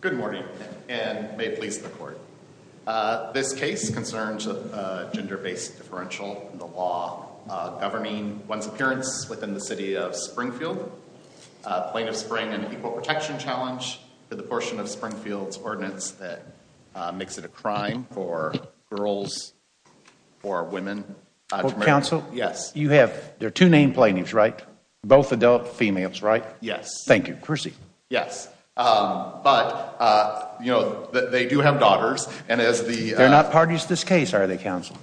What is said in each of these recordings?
Good morning, and may it please the court. This case concerns a gender-based differential in the law governing one's appearance within the city of Springfield. Plaintiff Spring, an equal protection challenge to the portion of Springfield's ordinance that makes it a crime for girls or women. Yes. You have, there are two named plaintiffs, right? Both adult females, right? Yes. Thank you. Yes. But, you know, they do have daughters, and as the... They're not parties to this case, are they, counsel?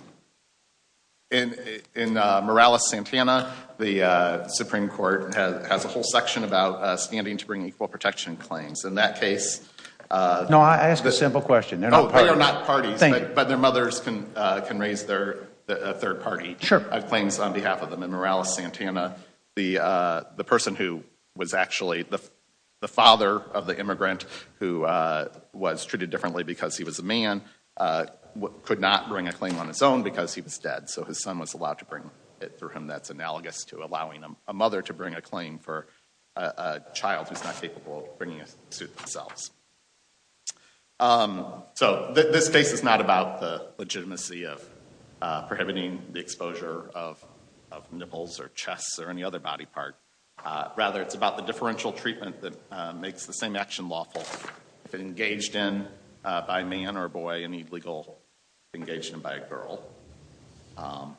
In Morales-Santana, the Supreme Court has a whole section about standing to bring equal protection claims. In that case... No, I ask a simple question. They're not parties. Oh, they are not parties. Thank you. But their mothers can raise their third-party... Sure. ...claims on behalf of them. In Morales-Santana, the person who was actually the father of the immigrant, who was treated differently because he was a man, could not bring a claim on his own because he was dead. So his son was allowed to bring it through him. That's analogous to allowing a mother to bring a claim for a child who's not capable of bringing a suit themselves. So this case is not about the legitimacy of prohibiting the exposure of nipples or chest or any other body part. Rather, it's about the differential treatment that makes the same action lawful. If it engaged in by a man or a boy, any legal engaged in by a girl. And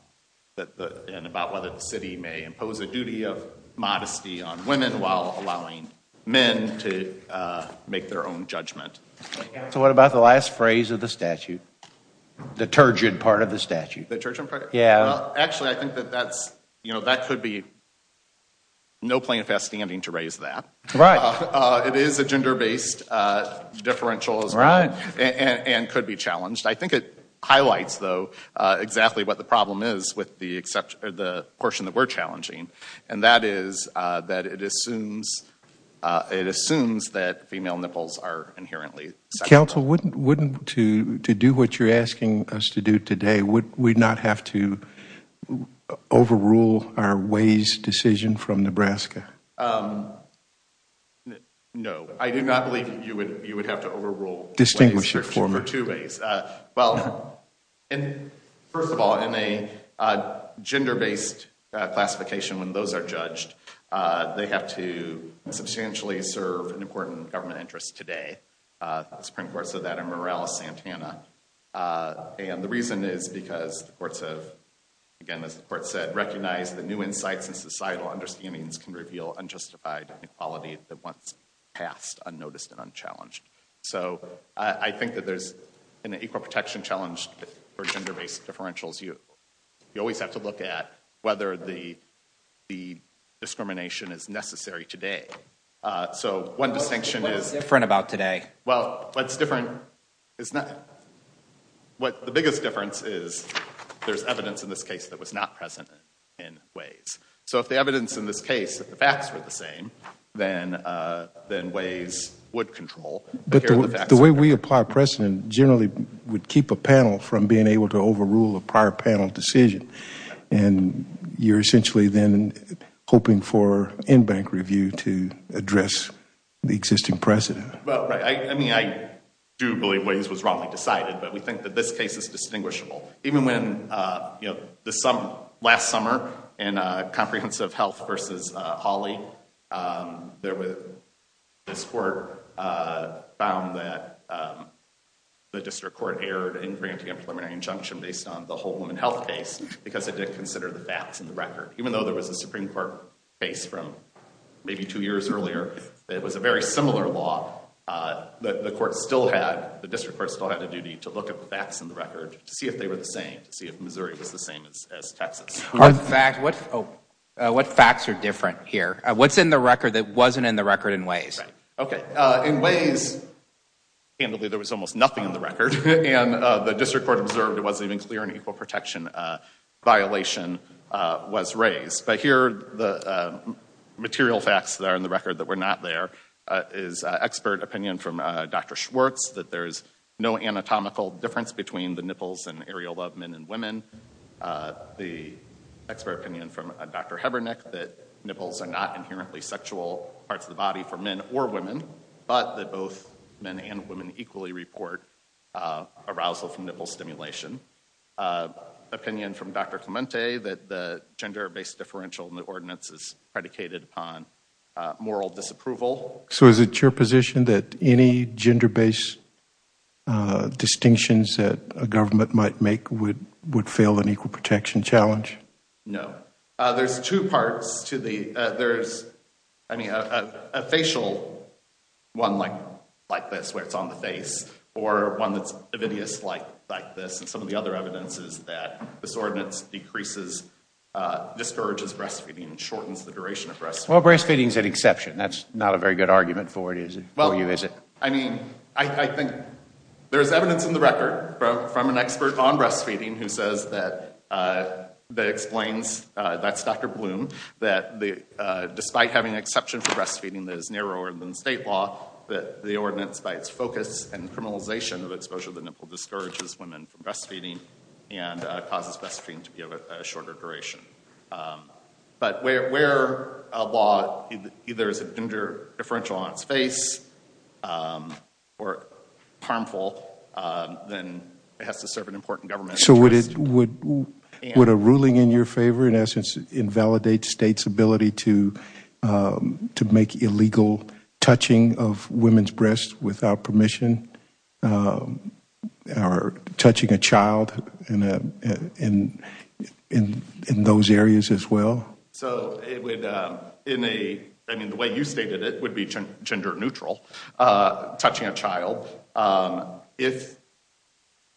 about whether the city may impose a duty of modesty on women while allowing men to make their own judgment. So what about the last phrase of the statute? The turgeon part of the statute. The turgeon part? Yeah. Actually, I think that could be no plaintiff at standing to raise that. Right. It is a gender-based differential as well. Right. And could be challenged. I think it highlights, though, exactly what the problem is with the portion that we're challenging. And that is that it assumes that female nipples are inherently sexual. Counsel, wouldn't to do what you're asking us to do today, would we not have to overrule our Ways decision from Nebraska? No. I do not believe you would have to overrule Ways for two ways. Well, first of all, in a gender-based classification, when those are judged, they have to substantially serve an important government interest today. The Supreme Court said that in is because the courts have, again as the court said, recognized the new insights and societal understandings can reveal unjustified equality that once passed unnoticed and unchallenged. So I think that there's an equal protection challenge for gender-based differentials. You always have to look at whether the discrimination is necessary today. So one distinction is... What's different is not... What the biggest difference is there's evidence in this case that was not present in Ways. So if the evidence in this case, if the facts were the same, then Ways would control. But the way we apply precedent generally would keep a panel from being able to overrule a prior panel decision. And you're essentially then hoping for in-bank review to address the existing precedent. Well, right. I mean, I do believe Ways was wrongly decided, but we think that this case is distinguishable. Even when, you know, last summer in Comprehensive Health v. Hawley, this court found that the district court erred in granting a preliminary injunction based on the whole women health case because it didn't consider the facts in the record. Even though there was a Supreme Court case from maybe two years earlier, it was a very similar law. The court still had, the district court still had a duty to look at the facts in the record to see if they were the same, to see if Missouri was the same as Texas. What facts are different here? What's in the record that wasn't in the record in Ways? Okay, in Ways, there was almost nothing in the record. And the district court observed it wasn't even clear an equal protection violation was raised. But here, the material facts that are in the record that were not there is expert opinion from Dr. Schwartz that there's no anatomical difference between the nipples and areola of men and women. The expert opinion from Dr. Hebernek that nipples are not inherently sexual parts of the body for men or women, but that both men and women equally report arousal from nipple stimulation. Opinion from Dr. Clemente that the gender-based differential in the ordinance is predicated upon moral disapproval. So is it your position that any gender-based distinctions that a government might make would would fail an equal protection challenge? No. There's two parts to the, there's, I mean, a facial one like, like this, where it's on the face, or one that's ovidious like, like this. And some of the other evidence is that this ordinance decreases, discourages breastfeeding and shortens the duration of breastfeeding. Well, breastfeeding is an exception. That's not a very good argument for you, is it? Well, I mean, I think there's evidence in the record from an expert on breastfeeding who says that, that explains, that's Dr. Bloom, that the, despite having an exception for breastfeeding that is narrower than state law, that the ordinance, by its focus and criminalization of exposure to the nipple, discourages women from breastfeeding and causes breastfeeding to be of a shorter duration. But where a law either is a gender differential on its face or harmful, then it has to serve an important government interest. So would it, would a ruling in your favor, in essence, invalidate state's ability to, to make illegal touching of women's breasts without permission, or touching a child in, in, in those areas as well? So it would, in a, I mean the way you stated it would be gender neutral, touching a child, if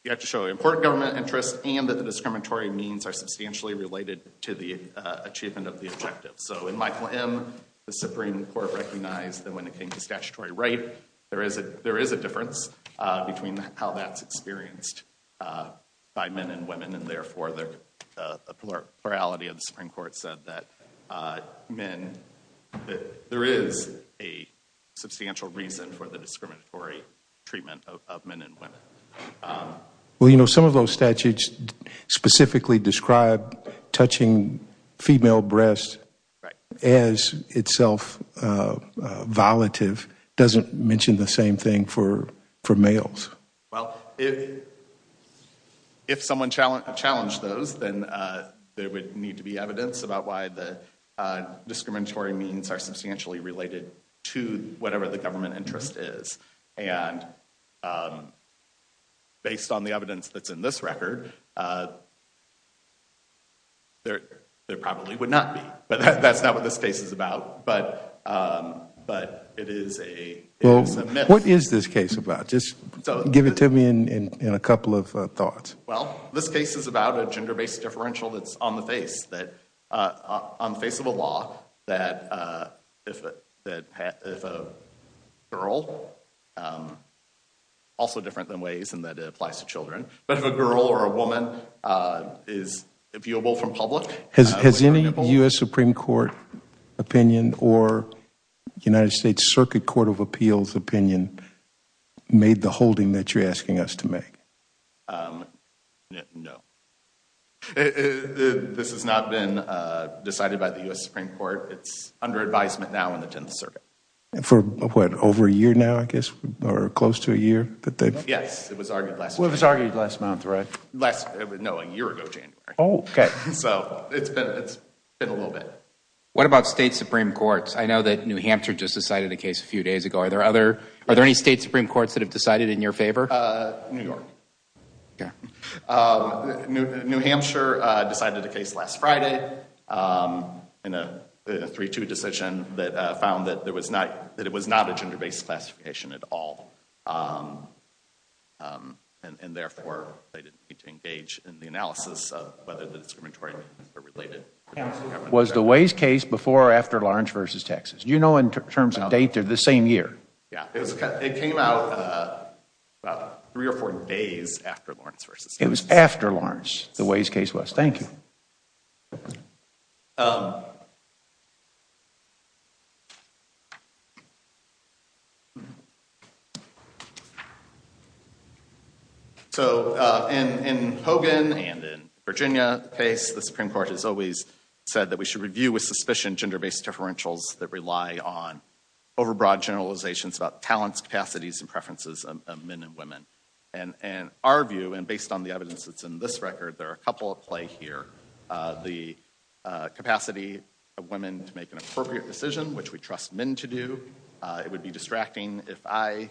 you have to show an important government interest and that the discriminatory means are substantially related to the achievement of the objective. So in my plan, the Supreme Court recognized that when it came to statutory right, there is a, there is a difference between how that's experienced by men and women, and therefore the plurality of the Supreme Court said that men, that there is a substantial reason for the discriminatory treatment of men and women. Well, you know, some of those statutes specifically describe touching female breasts as itself violative, doesn't mention the same thing for, for males. Well, if, if someone challenged, challenged those, then there would need to be evidence about why the discriminatory means are substantially related to whatever the government interest is. And based on the evidence that's in this But that's not what this case is about, but, but it is a, it is a myth. What is this case about? Just give it to me in a couple of thoughts. Well, this case is about a gender-based differential that's on the face, that on the face of a law, that if a, that if a girl, also different than ways in that it applies to children, but if a girl or a woman is viewable from public. Has, has any U.S. Supreme Court opinion or United States Circuit Court of Appeals opinion made the holding that you're asking us to make? No. This has not been decided by the U.S. Supreme Court. It's under advisement now in the Tenth Circuit. For what, over a year now, I guess, or close to a year? Yes, it was argued last month. Well, it was argued last month, right? Last, no, a year ago, January. Oh, okay. So, it's been, it's been a little bit. What about state Supreme Courts? I know that New Hampshire just decided a case a few days ago. Are there other, are there any state Supreme Courts that have decided in your favor? New York. Okay. New Hampshire decided a case last Friday in a 3-2 decision that found that there was not, that it was not a gender-based classification at all. And, therefore, they didn't need to engage in the analysis of whether the discriminatory were related. Was the Ways case before or after Lawrence v. Texas? Do you know in terms of date, they're the same year? Yeah, it was, it came out about three or four days after Lawrence v. Texas. It was after Lawrence, the Ways case was. Thank you. So, in Hogan and in Virginia case, the Supreme Court has always said that we should review with suspicion gender-based differentials that rely on over-broad generalizations about talents, capacities, and preferences of men and women. And our view, and based on the evidence that's in this record, there are a couple at play here. The capacity of women to make an appropriate decision, which we trust men to do. It would be distracting if I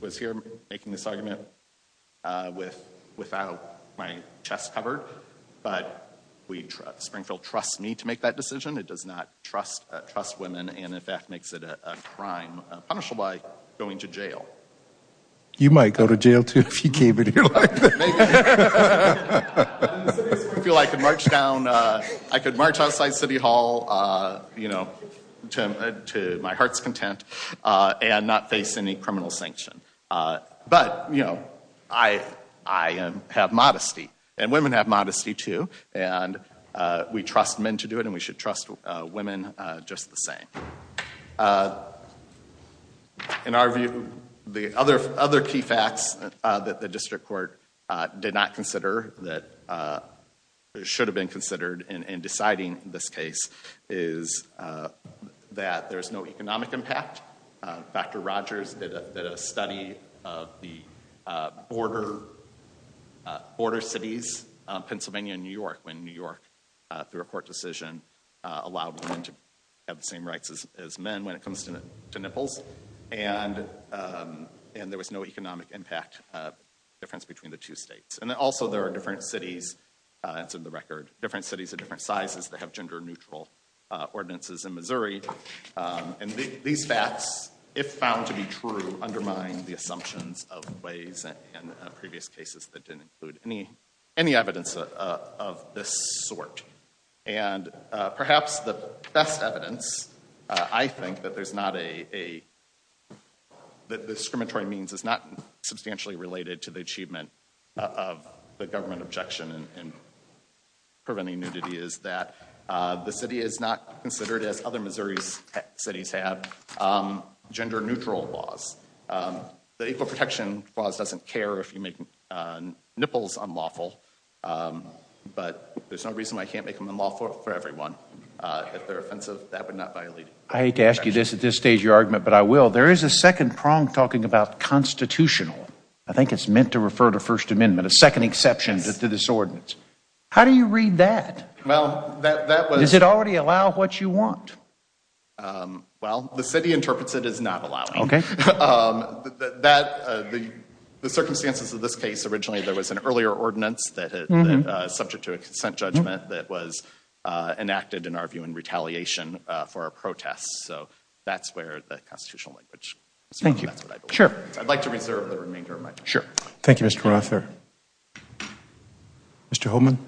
was here making this argument without my chest covered. But Springfield trusts me to make that decision. It does not trust women and, in fact, makes it a crime punishable by going to jail. You might go to jail, too, if you came in here like that. I feel I could march down, I could march outside City Hall, you know, to my heart's content and not face any criminal sanction. But, you know, I have modesty, and women have modesty, too. And we trust men to do it, and we should trust women just the same. In our view, the other key facts that the district court did not consider, that should have been considered in deciding this case, is that there's no economic impact. Dr. Rogers did a study of the border cities, Pennsylvania and New York, when New York, through a court decision, allowed women to have the same rights as men when it comes to nipples. And there was no economic impact difference between the two states. And also, there are different cities, it's in the record, different cities of different sizes that have gender-neutral ordinances in Missouri. And these facts, if found to be true, undermine the assumptions of ways in previous cases that didn't include any evidence of this sort. And perhaps the best evidence, I think, that there's not a, that discriminatory means is not substantially related to the achievement of the government objection in preventing nudity is that the city is not considered, as other Missouri cities have, gender-neutral laws. The Equal Protection Clause doesn't care if you make nipples unlawful, but there's no reason why you can't make them unlawful for everyone. If they're offensive, that would not violate Equal Protection. I hate to ask you this at this stage of your argument, but I will. There is a second prong talking about constitutional. I think it's meant to refer to First Amendment, a second exception to this ordinance. How do you read that? Well, that was Does it already allow what you want? Well, the city interprets it as not allowing. Okay. The circumstances of this case originally, there was an earlier ordinance that, subject to a consent judgment, that was enacted, in our view, in retaliation for a protest. So that's where the constitutional language comes from. Thank you. That's what I believe. Sure. I'd like to reserve the remainder of my time. Sure. Thank you, Mr. Rother. Mr. Holman?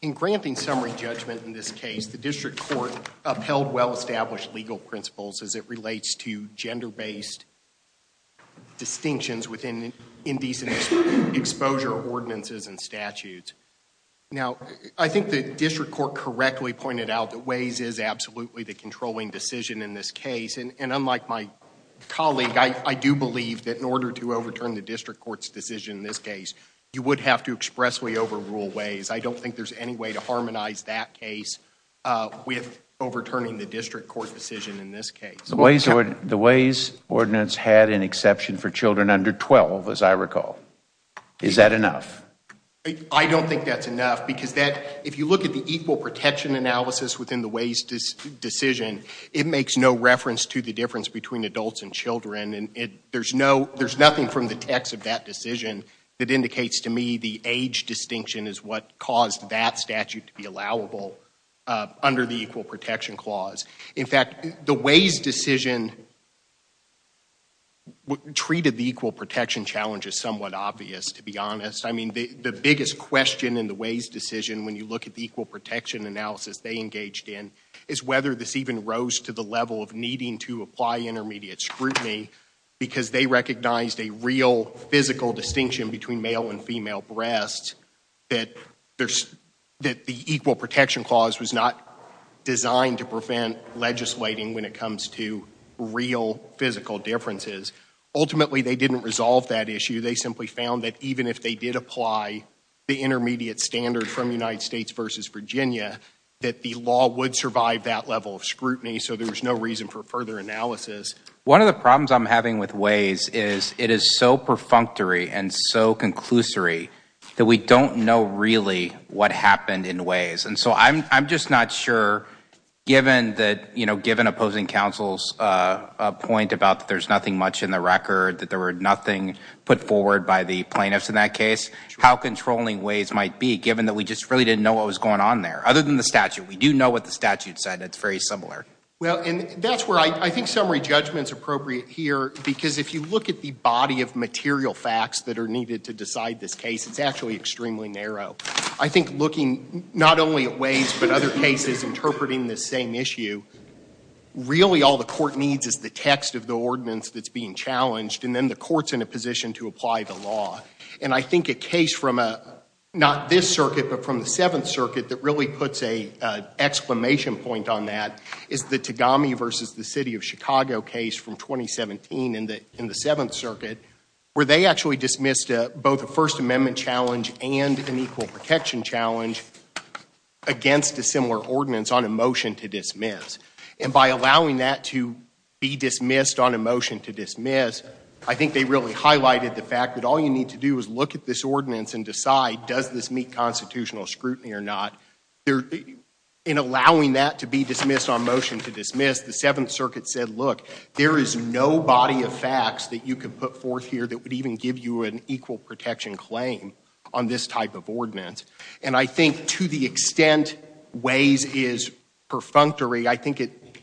In granting summary judgment in this case, the district court upheld well-established legal principles as it relates to gender-based distinctions within indecent exposure ordinances and statutes. Now, I think the district court correctly pointed out that Ways is absolutely the controlling decision in this case. And unlike my colleague, I do believe that in order to overturn the district court's decision in this case, you would have to expressly overrule Ways. I don't think there's any way to harmonize that case with overturning the district court's decision in this case. The Ways ordinance had an exception for children under 12, as I recall. Is that enough? I don't think that's enough because if you look at the equal protection analysis within the Ways decision, it makes no reference to the difference between adults and children. There's nothing from the text of that decision that indicates to me the age distinction is what caused that statute to be allowable under the equal protection clause. In fact, the Ways decision treated the equal protection challenge as somewhat obvious, to be honest. I mean, the biggest question in the Ways decision when you look at the equal protection analysis they engaged in is whether this even rose to the level of needing to apply intermediate scrutiny because they recognized a real physical distinction between male and female breasts, that the equal protection clause was not designed to prevent legislating when it comes to real physical differences. Ultimately, they didn't resolve that issue. They simply found that even if they did apply the intermediate standard from United States versus Virginia, that the law would survive that level of scrutiny, so there was no reason for further analysis. One of the problems I'm having with Ways is it is so perfunctory and so conclusory that we don't know really what happened in Ways. And so I'm just not sure, given that, you know, given opposing counsel's point about there's nothing much in the record, that there were nothing put forward by the plaintiffs in that case, how controlling Ways might be given that we just really didn't know what was going on there. Other than the statute, we do know what the statute said. It's very similar. Well, and that's where I think summary judgment is appropriate here because if you look at the body of material facts that are needed to decide this case, it's actually extremely narrow. I think looking not only at Ways but other cases interpreting this same issue, really all the court needs is the text of the ordinance that's being challenged and then the court's in a position to apply the law. And I think a case from not this circuit but from the Seventh Circuit that really puts an exclamation point on that is the Tagami versus the City of Chicago case from 2017 in the Seventh Circuit where they actually dismissed both a First Amendment challenge and an equal protection challenge against a similar ordinance on a motion to dismiss. And by allowing that to be dismissed on a motion to dismiss, I think they really highlighted the fact that all you need to do is look at this ordinance and decide does this meet constitutional scrutiny or not. In allowing that to be dismissed on motion to dismiss, the Seventh Circuit said, look, there is no body of facts that you can put forth here that would even give you an equal protection claim on this type of ordinance. And I think to the extent Ways is perfunctory, I think it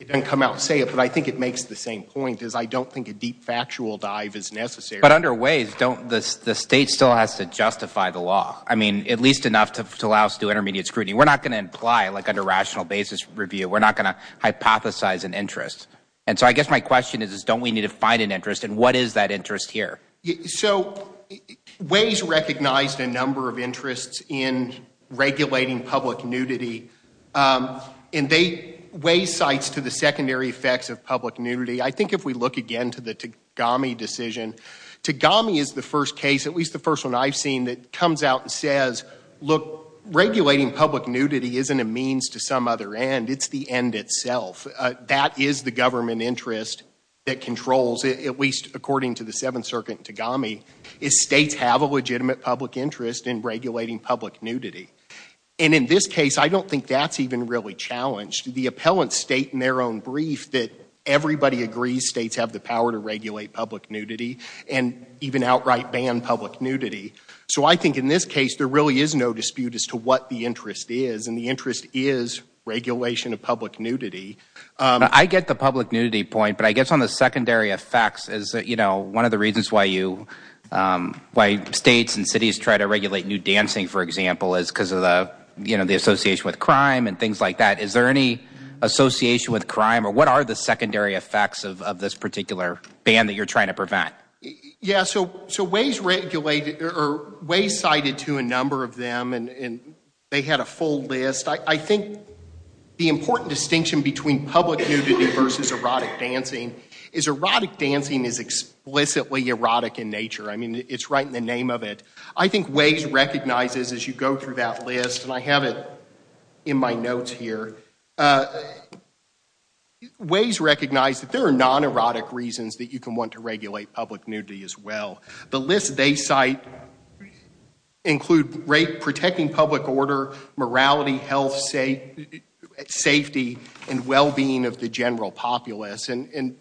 doesn't come out to say it but I think it makes the same point is I don't think a deep factual dive is necessary. But under Ways, the state still has to justify the law. I mean, at least enough to allow us to do intermediate scrutiny. We're not going to imply like under rational basis review. We're not going to hypothesize an interest. And so I guess my question is don't we need to find an interest and what is that interest here? So Ways recognized a number of interests in regulating public nudity. And Ways cites to the secondary effects of public nudity. I think if we look again to the Tagami decision, Tagami is the first case, at least the first one I've seen, that comes out and says, look, regulating public nudity isn't a means to some other end. It's the end itself. That is the government interest that controls, at least according to the Seventh Circuit Tagami, is states have a legitimate public interest in regulating public nudity. And in this case, I don't think that's even really challenged. The appellants state in their own brief that everybody agrees states have the power to regulate public nudity and even outright ban public nudity. So I think in this case, there really is no dispute as to what the interest is. And the interest is regulation of public nudity. I get the public nudity point. But I guess on the secondary effects, one of the reasons why states and cities try to regulate nude dancing, for example, is because of the association with crime and things like that. Is there any association with crime? Or what are the secondary effects of this particular ban that you're trying to prevent? Yeah, so Waze cited to a number of them, and they had a full list. I think the important distinction between public nudity versus erotic dancing is erotic dancing is explicitly erotic in nature. I mean, it's right in the name of it. I think Waze recognizes, as you go through that list, and I have it in my notes here, Waze recognized that there are non-erotic reasons that you can want to regulate public nudity as well. The list they cite include protecting public order, morality, health, safety, and well-being of the general populace. And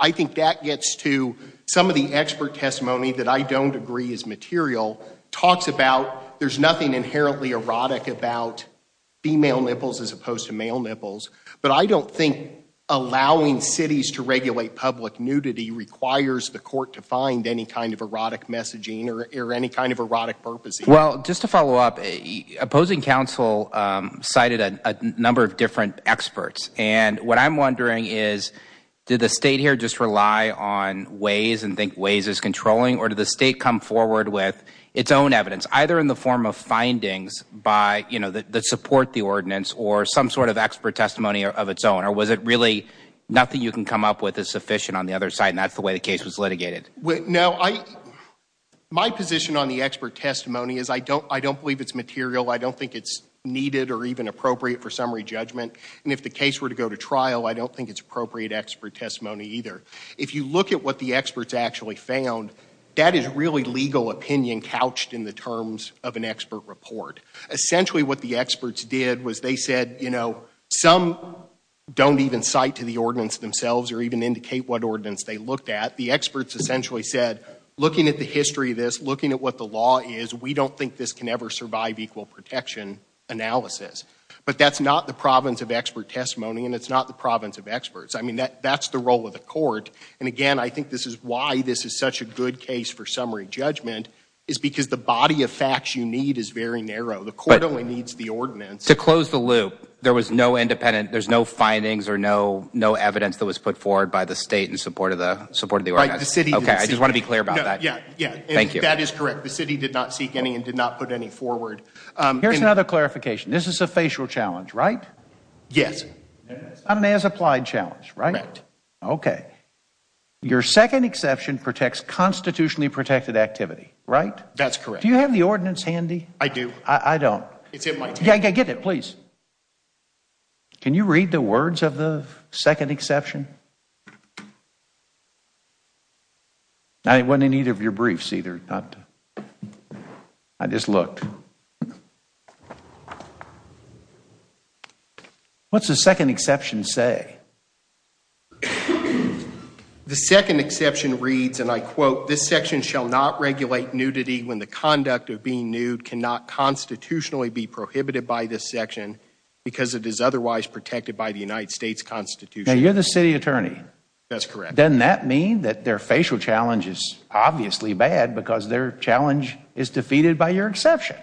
I think that gets to some of the expert testimony that I don't agree is material, talks about there's nothing inherently erotic about female nipples as opposed to male nipples, but I don't think allowing cities to regulate public nudity requires the court to find any kind of erotic messaging or any kind of erotic purposes. Well, just to follow up, opposing counsel cited a number of different experts, and what I'm wondering is did the state here just rely on Waze and think Waze is controlling, or did the state come forward with its own evidence, either in the form of findings that support the ordinance or some sort of expert testimony of its own, or was it really nothing you can come up with is sufficient on the other side, and that's the way the case was litigated? No, my position on the expert testimony is I don't believe it's material. I don't think it's needed or even appropriate for summary judgment, and if the case were to go to trial, I don't think it's appropriate expert testimony either. If you look at what the experts actually found, that is really legal opinion couched in the terms of an expert report. Essentially what the experts did was they said, you know, some don't even cite to the ordinance themselves or even indicate what ordinance they looked at. The experts essentially said, looking at the history of this, looking at what the law is, we don't think this can ever survive equal protection analysis, but that's not the province of expert testimony, and it's not the province of experts. I mean, that's the role of the court, and again, I think this is why this is such a good case for summary judgment is because the body of facts you need is very narrow. The court only needs the ordinance. To close the loop, there was no independent, there's no findings or no evidence that was put forward by the state in support of the ordinance. Okay, I just want to be clear about that. Yeah, yeah, that is correct. The city did not seek any and did not put any forward. Here's another clarification. This is a facial challenge, right? Yes. On an as-applied challenge, right? Correct. Okay. Your second exception protects constitutionally protected activity, right? That's correct. Do you have the ordinance handy? I do. I don't. It's in my table. Yeah, get it, please. Can you read the words of the second exception? It wasn't in either of your briefs, either. I just looked. What's the second exception say? The second exception reads, and I quote, this section shall not regulate nudity when the conduct of being nude cannot constitutionally be prohibited by this section because it is otherwise protected by the United States Constitution. Now, you're the city attorney. That's correct. Doesn't that mean that their facial challenge is obviously bad because their challenge is defeated by your exception?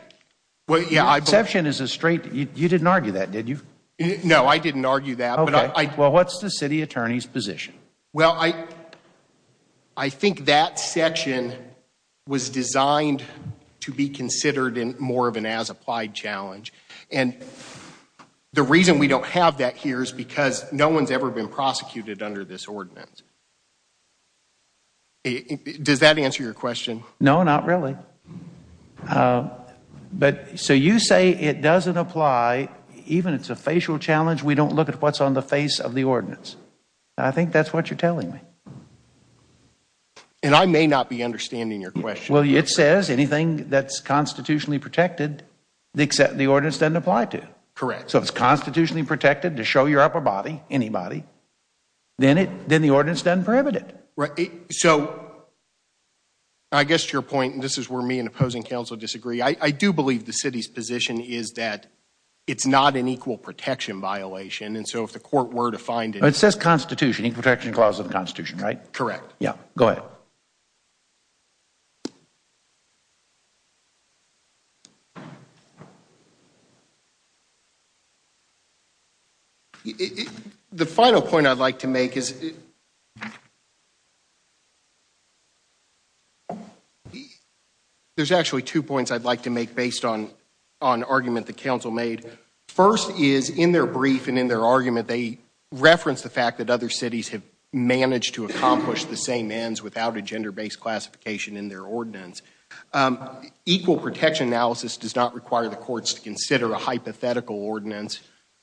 You didn't argue that, did you? No, I didn't argue that. Well, what's the city attorney's position? Well, I think that section was designed to be considered in more of an as-applied challenge. And the reason we don't have that here is because no one's ever been prosecuted under this ordinance. Does that answer your question? No, not really. So you say it doesn't apply, even if it's a facial challenge, we don't look at what's on the face of the ordinance. I think that's what you're telling me. And I may not be understanding your question. Well, it says anything that's constitutionally protected, except the ordinance doesn't apply to. Correct. So if it's constitutionally protected to show your upper body, anybody, then the ordinance doesn't prohibit it. So I guess to your point, and this is where me and opposing counsel disagree, I do believe the city's position is that it's not an equal protection violation. And so if the court were to find it. It says constitution equal protection clause of the constitution, right? Correct. Yeah, go ahead. Okay. The final point I'd like to make is. There's actually two points I'd like to make based on, on argument the council made first is in their brief and in their argument, they reference the fact that other cities have managed to accomplish the same ends without a gender based classification in their ordinance. Equal protection analysis does not require the courts to consider a hypothetical ordinance,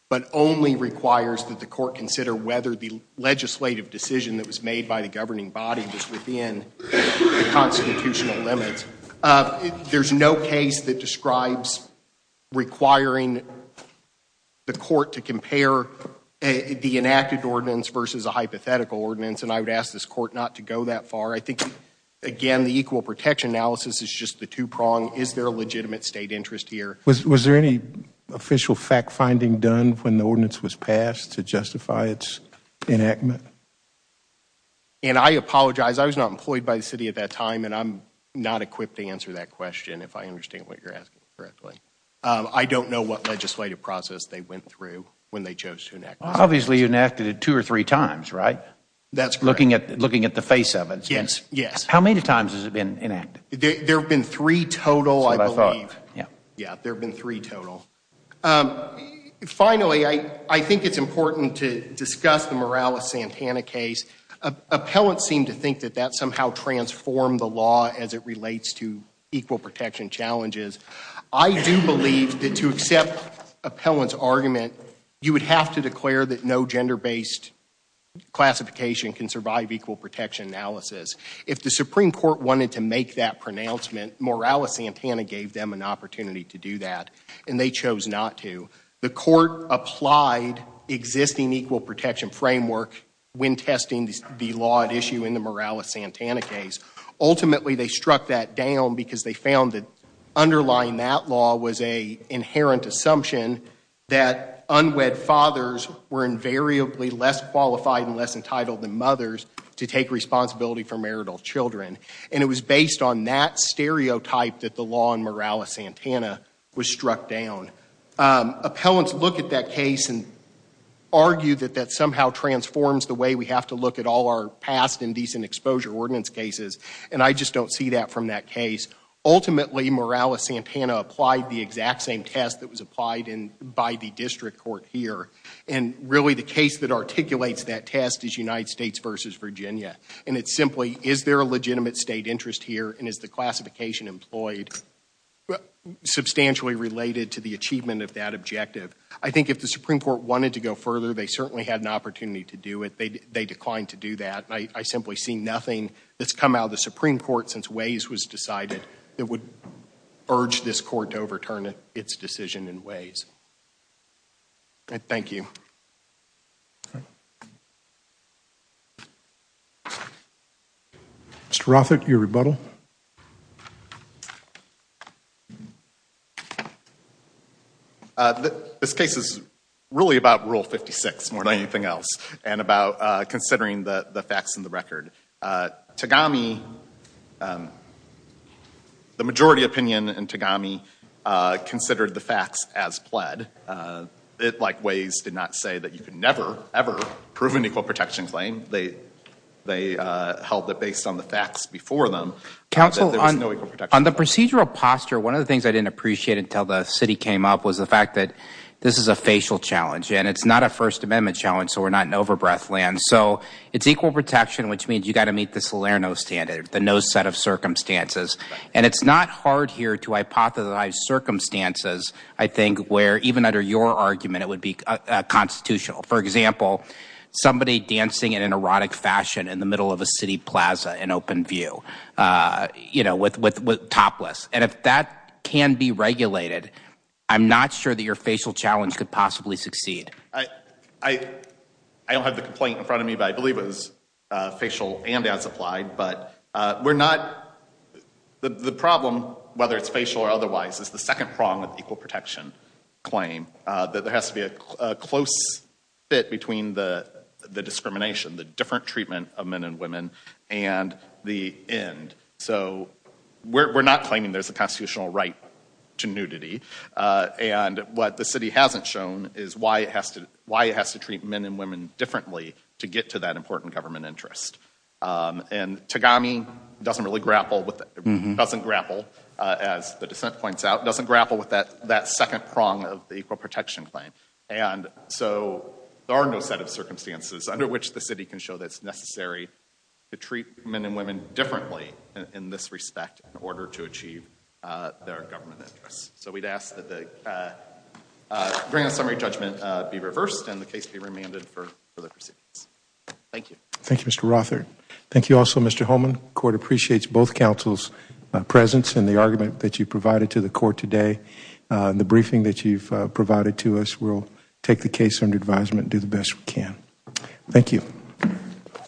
but only requires that the court consider whether the legislative decision that was made by the governing body was within the constitutional limits. There's no case that describes requiring the court to compare the enacted ordinance versus a hypothetical ordinance. And I would ask this court not to go that far. I think again, the equal protection analysis is just the two prong. Is there a legitimate state interest here? Was there any official fact finding done when the ordinance was passed to justify its enactment? And I apologize. I was not employed by the city at that time. And I'm not equipped to answer that question. If I understand what you're asking correctly. I don't know what legislative process they went through when they chose to look at the face of it. Yes. Yes. How many times has it been enacted? There've been three total, I believe. Yeah. Yeah. There've been three total. Finally, I think it's important to discuss the Morales-Santana case. Appellants seem to think that that somehow transformed the law as it relates to equal protection challenges. I do believe that to accept appellant's argument, you would have to declare that no gender-based classification can survive equal protection analysis. If the Supreme Court wanted to make that pronouncement, Morales-Santana gave them an opportunity to do that. And they chose not to. The court applied existing equal protection framework when testing the law at issue in the Morales-Santana case. Ultimately, they struck that down because they found that underlying that law was a case where unwed fathers were invariably less qualified and less entitled than mothers to take responsibility for marital children. And it was based on that stereotype that the law in Morales-Santana was struck down. Appellants look at that case and argue that that somehow transforms the way we have to look at all our past indecent exposure ordinance cases. And I just don't see that from that case. Ultimately, Morales-Santana applied the exact same test that was applied by the district court here. And really, the case that articulates that test is United States v. Virginia. And it's simply, is there a legitimate state interest here and is the classification employed substantially related to the achievement of that objective? I think if the Supreme Court wanted to go further, they certainly had an opportunity to do it. They declined to do that. I simply see nothing that's come out of the Supreme Court since Waze was decided that would urge this court to overturn its decision in Waze. Thank you. Mr. Rothert, your rebuttal. This case is really about Rule 56 more than anything else. And about considering the facts and the record. Tagami, the majority opinion in Tagami considered the facts as pled. Like Waze did not say that you could never, ever prove an equal protection claim. They held that based on the facts before them, there was no equal protection claim. On the procedural posture, one of the things I didn't appreciate until the city came up was the fact that this is a facial challenge and it's not a first amendment challenge, so we're not in over-breath land. So it's equal protection, which means you got to meet the Salerno standard, the no set of circumstances. And it's not hard here to hypothesize circumstances. I think where even under your argument, it would be a constitutional, for example, somebody dancing in an erotic fashion in the middle of a city Plaza, an open view, you know, with, with, with topless. And if that can be regulated, I'm not sure that your facial challenge could possibly succeed. I, I, I don't have the complaint in front of me, but I believe it was a facial and as applied, but we're not the, the problem, whether it's facial or otherwise is the second prong of equal protection claim that there has to be a close fit between the, the discrimination, the different treatment of men and women and the end. So we're, we're not claiming there's a constitutional right to nudity. And what the city hasn't shown is why it has to, why it has to treat men and women differently to get to that important government interest. And Tagami doesn't really grapple with, doesn't grapple as the dissent points out, doesn't grapple with that, that second prong of the equal protection claim. And so there are no set of circumstances under which the city can show that it's necessary to treat men and women differently in this respect, in order to achieve their government interests. So we'd ask that the grand summary judgment be reversed and the case be remanded for the proceedings. Thank you. Thank you, Mr. Rother. Thank you also, Mr. Holman court appreciates both councils presence in the argument that you provided to the court today, the briefing that you've provided to us. We'll take the case under advisement and do the best we can. Thank you.